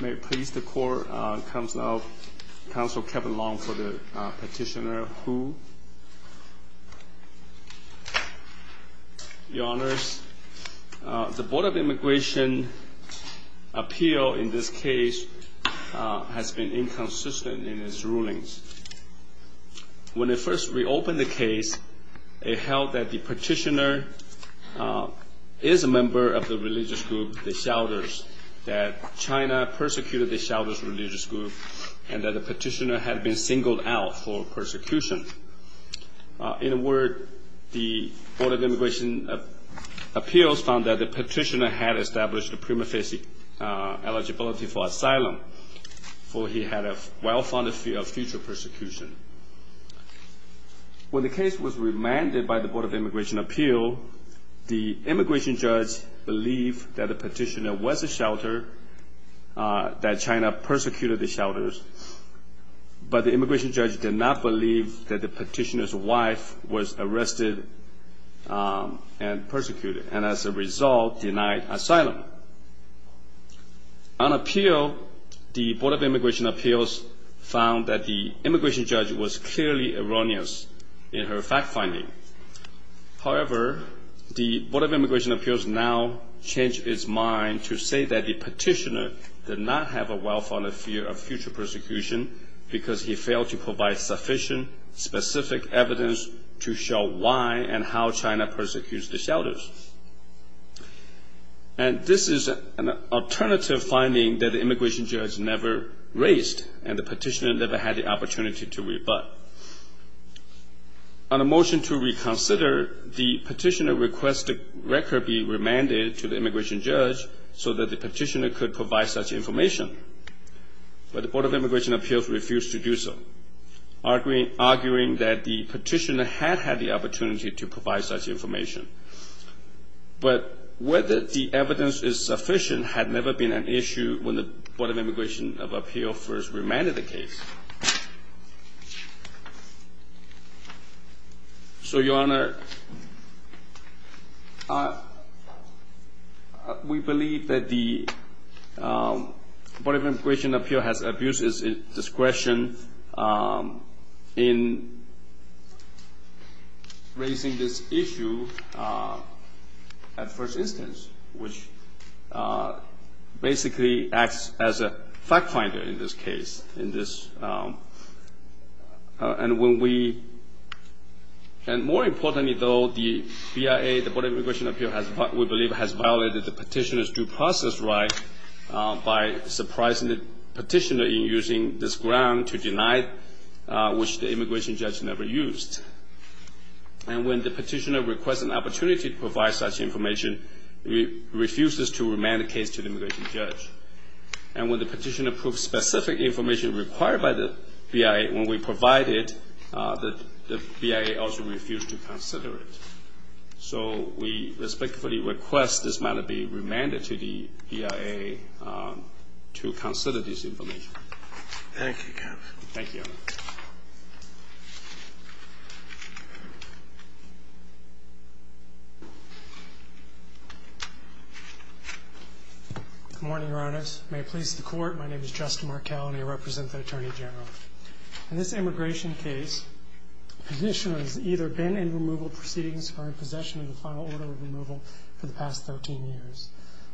May it please the court, Councilor Kevin Long for the petitioner, Hu. Your Honors, the Board of Immigration appeal in this case has been inconsistent in its rulings. When it first reopened the case, it held that the petitioner is a member of the religious group, the Shouders, that China persecuted the Shouders religious group, and that the petitioner had been singled out for persecution. In a word, the Board of Immigration Appeals found that the petitioner had established a prima facie eligibility for asylum, for he had a well-founded fear of future persecution. When the case was remanded by the Board of Immigration Appeal, the immigration judge believed that the petitioner was a Shouder, that China persecuted the Shouders, but the immigration judge did not believe that the petitioner's wife was arrested and persecuted, and as a result denied asylum. On appeal, the Board of Immigration Appeals found that the immigration judge was clearly erroneous in her fact-finding. However, the Board of Immigration Appeals now changed its mind to say that the petitioner did not have a well-founded fear of future persecution because he failed to provide sufficient, specific evidence to show why and how China persecuted the Shouders. And this is an alternative finding that the immigration judge never raised, and the petitioner never had the opportunity to rebut. On a motion to reconsider, the petitioner requested the record be remanded to the immigration judge so that the petitioner could provide such information, but the Board of Immigration Appeals refused to do so, arguing that the petitioner had had the opportunity to provide such information. But whether the evidence is sufficient had never been an issue when the Board of Immigration Appeals first remanded the case. So, Your Honor, we believe that the Board of Immigration Appeals has abused its discretion in raising this issue at first instance, which basically acts as a fact-finder in this case. And more importantly, though, the BIA, the Board of Immigration Appeals, we believe has violated the petitioner's due process right by surprising the petitioner in using this ground to deny which the immigration judge never used. And when the petitioner requests an opportunity to provide such information, refuses to remand the case to the immigration judge. And when the petitioner approves specific information required by the BIA, when we provide it, the BIA also refuses to consider it. So we respectfully request this matter be remanded to the BIA to consider this information. Thank you, Your Honor. Thank you. Good morning, Your Honors. May it please the Court, my name is Justin Markell and I represent the Attorney General. In this immigration case, the petitioner has either been in removal proceedings or in possession of the final order of removal for the past 13 years.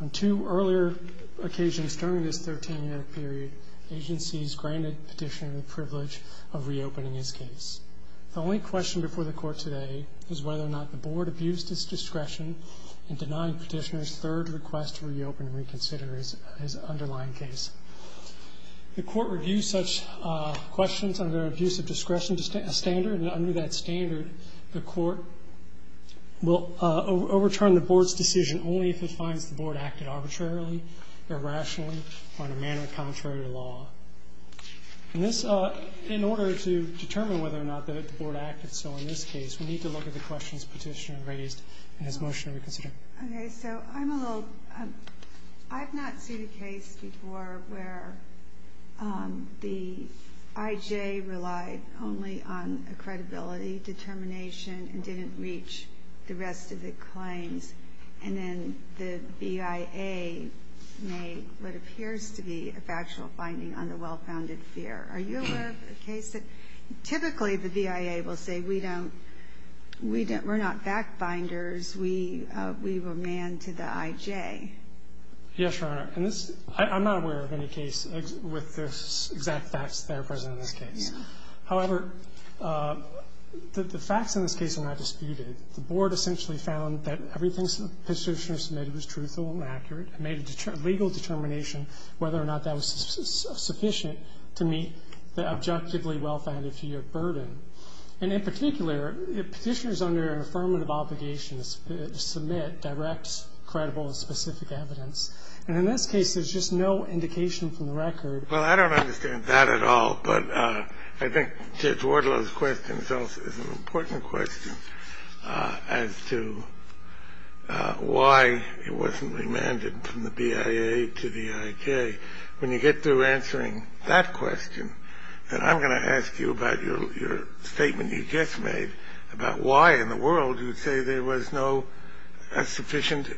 On two earlier occasions during this 13-year period, agencies granted petitioner the privilege of reopening his case. The only question before the Court today is whether or not the Board abused its discretion in denying petitioner's third request to reopen and reconsider his underlying case. The Court reviews such questions under an abuse of discretion standard, and under that standard, the Court will overturn the Board's decision only if it finds the Board acted arbitrarily, irrationally, or in a manner contrary to law. In order to determine whether or not the Board acted so in this case, we need to look at the questions petitioner raised in his motion to reconsider. Okay, so I'm a little, I've not seen a case before where the I.J. relied only on a credibility determination and didn't reach the rest of the claims, and then the B.I.A. made what appears to be a factual finding on the well-founded fear. Are you aware of a case that typically the B.I.A. will say we don't, we're not fact-binders, we were manned to the I.J.? Yes, Your Honor. And this, I'm not aware of any case with the exact facts that are present in this case. However, the facts in this case are not disputed. The Board essentially found that everything petitioner submitted was truthful and accurate and made a legal determination whether or not that was sufficient to meet the objectively well-founded fear burden. And in particular, petitioners under affirmative obligation submit direct, credible, and specific evidence. And in this case, there's just no indication from the record. Well, I don't understand that at all. But I think Judge Wardlow's question is also an important question as to why it wasn't remanded from the B.I.A. to the I.J. When you get to answering that question, then I'm going to ask you about your statement you just made about why in the world you'd say there was no sufficient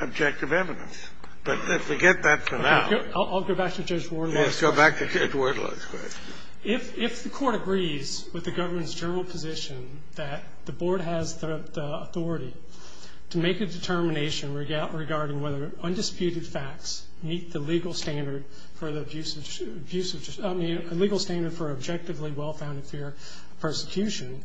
objective evidence. But forget that for now. I'll go back to Judge Wardlow. Let's go back to Judge Wardlow's question. If the Court agrees with the Government's general position that the Board has the authority to make a determination regarding whether undisputed facts meet the legal standard for the abusive – I mean, a legal standard for objectively well-founded fear of persecution,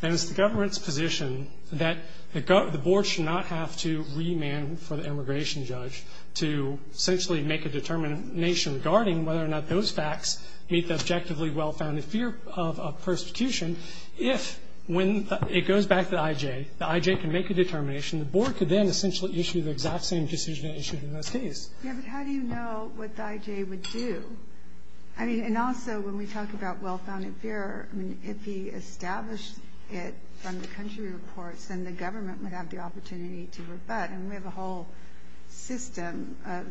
then it's the Government's position that the Board should not have to remand for the immigration judge to essentially make a determination regarding whether or not those facts meet the objectively well-founded fear of persecution. If, when it goes back to the I.J., the I.J. can make a determination, the Board could then essentially issue the exact same decision it issued in this case. Yeah, but how do you know what the I.J. would do? I mean, and also, when we talk about well-founded fear, I mean, if he established it from the country reports, then the Government would have the opportunity to rebut. And we have a whole system of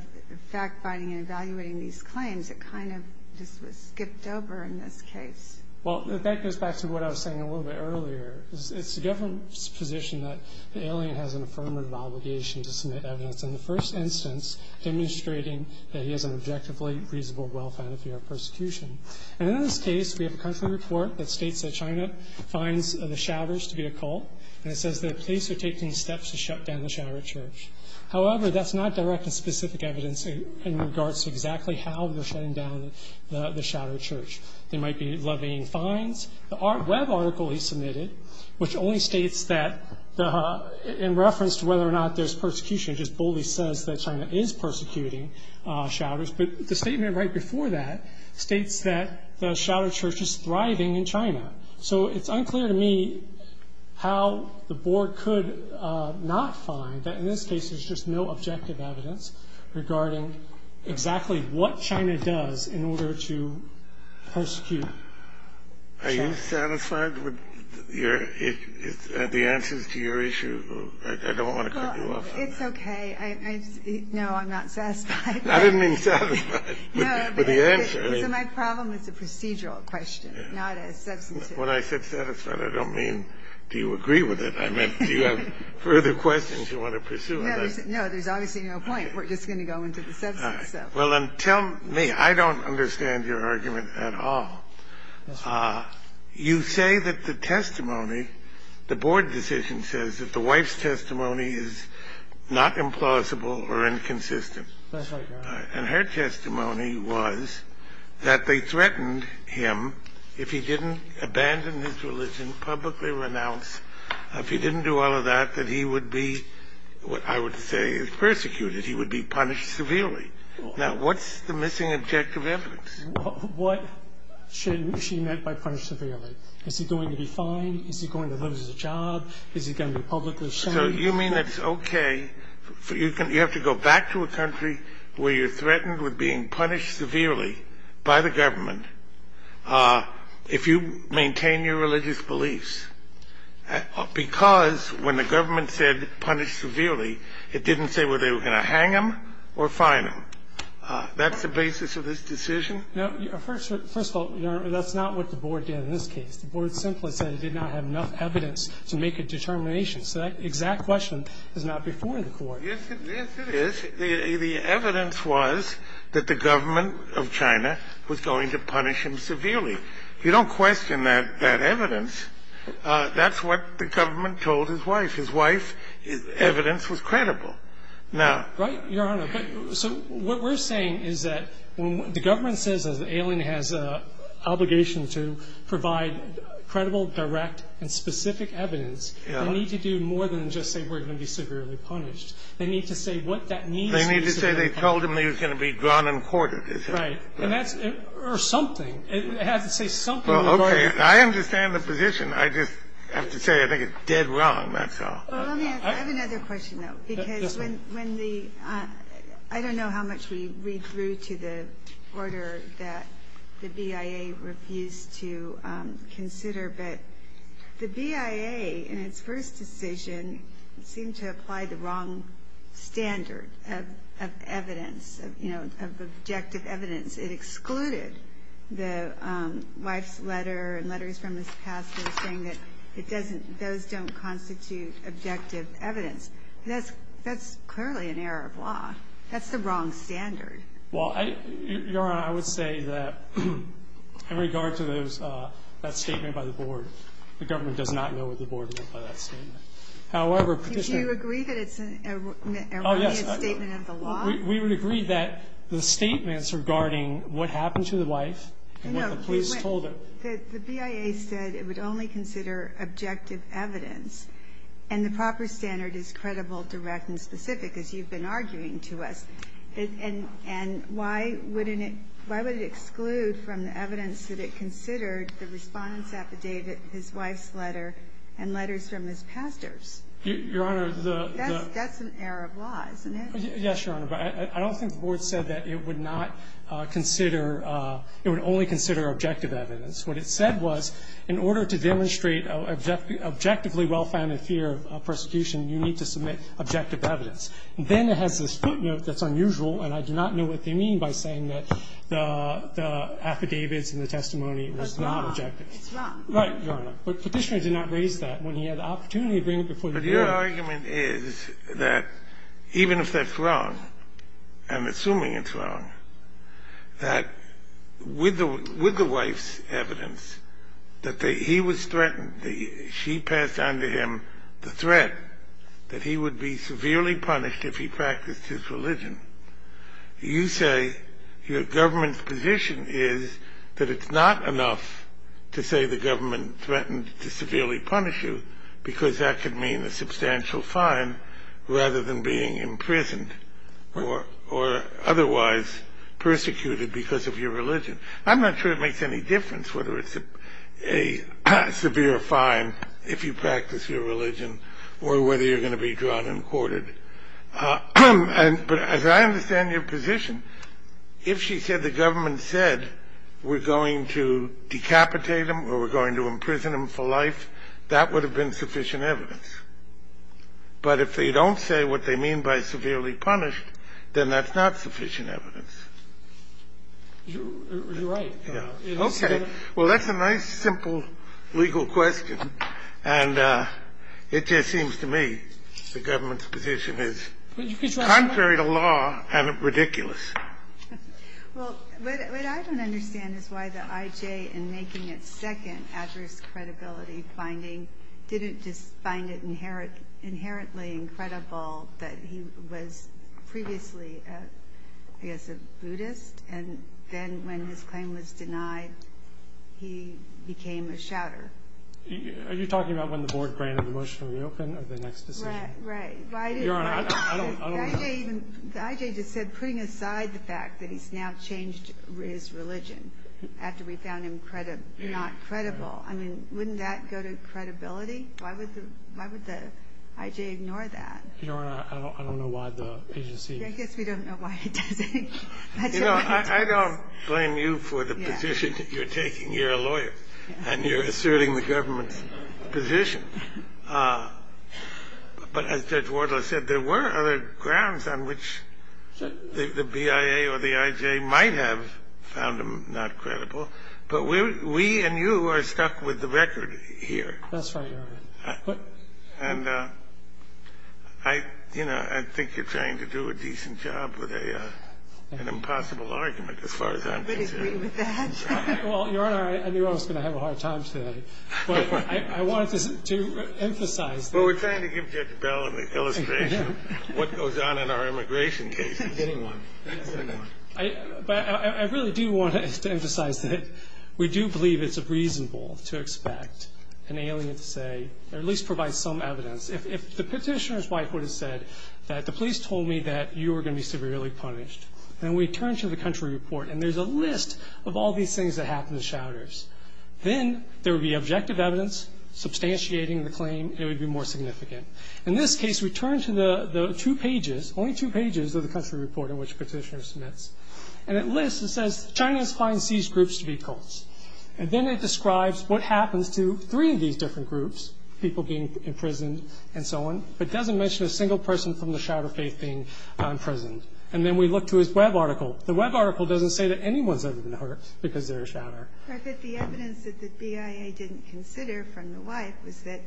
fact-finding and evaluating these claims. It kind of just was skipped over in this case. Well, that goes back to what I was saying a little bit earlier. It's the Government's position that the alien has an affirmative obligation to submit evidence. In the first instance, demonstrating that he has an objectively reasonable well-founded fear of persecution. And in this case, we have a country report that states that China finds the shouters to be a cult, and it says that the police are taking steps to shut down the shouter church. However, that's not direct and specific evidence in regards to exactly how they're shutting down the shouter church. They might be levying fines. The web article he submitted, which only states that, in reference to whether or not there's persecution, it just boldly says that China is persecuting shouters. But the statement right before that states that the shouter church is thriving in China. So it's unclear to me how the Board could not find that, in this case, there's just no objective evidence regarding exactly what China does in order to persecute. Are you satisfied with the answers to your issue? I don't want to cut you off. It's okay. No, I'm not satisfied. I didn't mean satisfied with the answer. Is it my problem? It's a procedural question, not a substantive. When I said satisfied, I don't mean do you agree with it. I meant do you have further questions you want to pursue? No, there's obviously no point. We're just going to go into the substance. All right. Well, then tell me. I don't understand your argument at all. You say that the testimony, the Board decision says that the wife's testimony is not implausible or inconsistent. That's right, Your Honor. And her testimony was that they threatened him if he didn't abandon his religion, publicly renounce, if he didn't do all of that, that he would be, I would say, persecuted. He would be punished severely. Now, what's the missing objective evidence? What should she mean by punished severely? Is he going to be fined? Is he going to lose his job? Is he going to be publicly shamed? So you mean it's okay. You have to go back to a country where you're threatened with being punished severely by the government if you maintain your religious beliefs, because when the government said punished severely, it didn't say whether they were going to hang him or fine him. That's the basis of this decision? No. First of all, Your Honor, that's not what the Board did in this case. The Board simply said it did not have enough evidence to make a determination. So that exact question is not before the Court. Yes, it is. The evidence was that the government of China was going to punish him severely. You don't question that evidence. That's what the government told his wife. His wife's evidence was credible. Now — Right, Your Honor. So what we're saying is that when the government says an alien has an obligation to provide credible, direct, and specific evidence, they need to do more than just say we're going to be severely punished. They need to say what that means. They need to say they told him he was going to be drawn and quartered. Right. And that's — or something. It has to say something. Well, okay. I understand the position. I just have to say I think it's dead wrong, that's all. Well, let me ask. I have another question, though, because when the — I don't know how much we read through to the order that the BIA refused to consider, but the BIA, in its first decision, seemed to apply the wrong standard of evidence, you know, of objective evidence. It excluded the wife's letter and letters from his pastor saying that it doesn't — those don't constitute objective evidence. That's clearly an error of law. That's the wrong standard. Well, Your Honor, I would say that in regard to those — that statement by the board, the government does not know what the board meant by that statement. However, Petitioner — Do you agree that it's an erroneous statement of the law? Oh, yes. We would agree that the statements regarding what happened to the wife and what the police told her — No. The BIA said it would only consider objective evidence, and the proper standard is credible, direct, and specific, as you've been arguing to us. And why wouldn't it — why would it exclude from the evidence that it considered the Respondent's affidavit, his wife's letter, and letters from his pastors? Your Honor, the — That's an error of law, isn't it? Yes, Your Honor. But I don't think the board said that it would not consider — it would only consider objective evidence. What it said was, in order to demonstrate objectively well-founded fear of persecution, you need to submit objective evidence. Then it has this footnote that's unusual, and I do not know what they mean by saying that the affidavits and the testimony was not objective. It's wrong. It's wrong. Right, Your Honor. But Petitioner did not raise that when he had the opportunity to bring it before the board. But your argument is that even if that's wrong, and assuming it's wrong, that with the wife's evidence, that he was threatened, she passed on to him the threat that he would be severely punished if he practiced his religion, you say your government's position is that it's not enough to say the government threatened to severely punish you because that could mean a substantial fine rather than being imprisoned or otherwise persecuted because of your religion. I'm not sure it makes any difference whether it's a severe fine if you practice your religion or whether you're going to be drawn and courted. But as I understand your position, if she said the government said we're going to decapitate him or we're going to imprison him for life, that would have been sufficient evidence. But if they don't say what they mean by severely punished, then that's not sufficient evidence. You're right. Okay. Well, that's a nice, simple legal question. And it just seems to me the government's position is contrary to law and ridiculous. Well, what I don't understand is why the I.J. in making its second adverse credibility finding didn't just find it inherently incredible that he was previously, I guess, a Buddhist. And then when his claim was denied, he became a shouter. Are you talking about when the board granted the motion to reopen or the next decision? Right. Your Honor, I don't understand. The I.J. just said putting aside the fact that he's now changed his religion after we found him not credible. I mean, wouldn't that go to credibility? Why would the I.J. ignore that? Your Honor, I don't know why the agency... I guess we don't know why it doesn't. You know, I don't blame you for the position you're taking. You're a lawyer. And you're asserting the government's position. But as Judge Wardler said, there were other grounds on which the BIA or the I.J. might have found him not credible. But we and you are stuck with the record here. That's right, Your Honor. And, you know, I think you're trying to do a decent job with an impossible argument as far as I'm concerned. I would agree with that. Well, Your Honor, I knew I was going to have a hard time today. But I wanted to emphasize... Well, we're trying to give Judge Bell an illustration of what goes on in our immigration cases. I'm getting one. It at least provides some evidence. If the petitioner's wife would have said that the police told me that you were going to be severely punished, then we turn to the country report, and there's a list of all these things that happen to shouters. Then there would be objective evidence substantiating the claim. It would be more significant. In this case, we turn to the two pages, only two pages of the country report in which the petitioner submits. And it lists and says, And then it describes what happens to three of these different groups, people being imprisoned and so on, but doesn't mention a single person from the shouter faith being imprisoned. And then we look to his web article. The web article doesn't say that anyone's ever been hurt because they're a shouter. But the evidence that the BIA didn't consider from the wife was that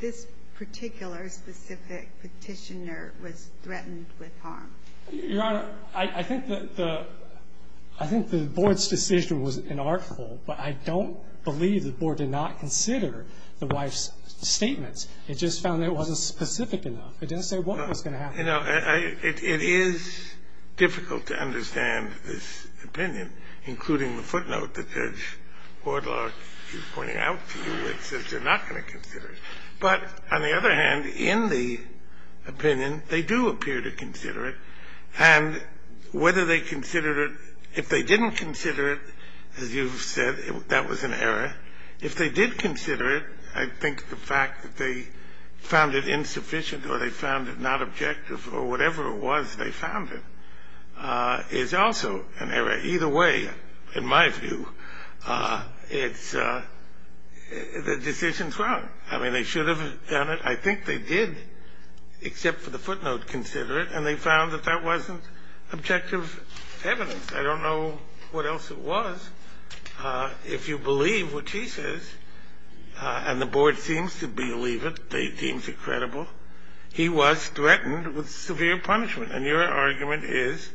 this particular specific petitioner was threatened with harm. Your Honor, I think the Board's decision was inartful, but I don't believe the Board did not consider the wife's statements. It just found that it wasn't specific enough. It didn't say what was going to happen. It is difficult to understand this opinion, including the footnote that Judge Wardlock is pointing out to you. It says you're not going to consider it. But on the other hand, in the opinion, they do appear to consider it. And whether they considered it, if they didn't consider it, as you've said, that was an error. If they did consider it, I think the fact that they found it insufficient or they found it not objective or whatever it was they found it, is also an error. Either way, in my view, it's the decision's wrong. I mean, they should have done it. I think they did, except for the footnote, consider it. And they found that that wasn't objective evidence. I don't know what else it was. If you believe what she says, and the Board seems to believe it, they seem to be credible, he was threatened with severe punishment. And your argument is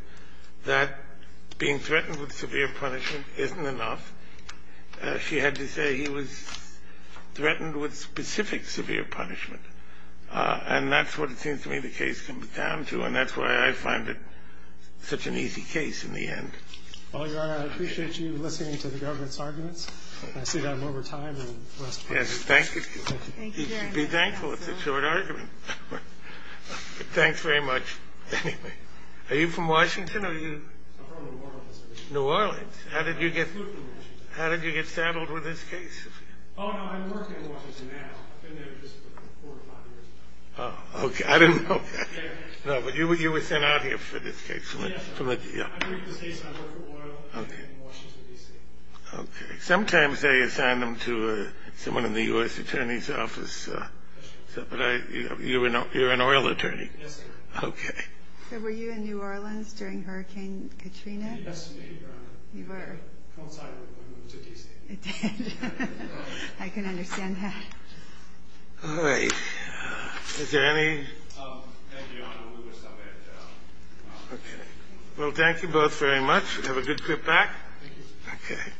that being threatened with severe punishment isn't enough. She had to say he was threatened with specific severe punishment. And that's what it seems to me the case comes down to. And that's why I find it such an easy case in the end. Well, Your Honor, I appreciate you listening to the government's arguments. I see that I'm over time. Yes, thank you. Thank you, Your Honor. Be thankful it's a short argument. Thanks very much. Anyway, are you from Washington or are you? I'm from New Orleans. New Orleans. How did you get saddled with this case? Oh, no, I work in Washington now. I've been there just for four or five years now. Oh, okay. I didn't know that. No, but you were sent out here for this case. Yes. I'm from Washington, D.C. Okay. Sometimes they assign them to someone in the U.S. Attorney's Office. But you're an oil attorney. Yes, sir. Okay. So were you in New Orleans during Hurricane Katrina? Yes, ma'am. You were? I was outside when it moved to D.C. It did. I can understand that. All right. Is there any? Thank you, Your Honor. We're going to stop it. Okay. Well, thank you both very much. Have a good trip back. Thank you. Okay.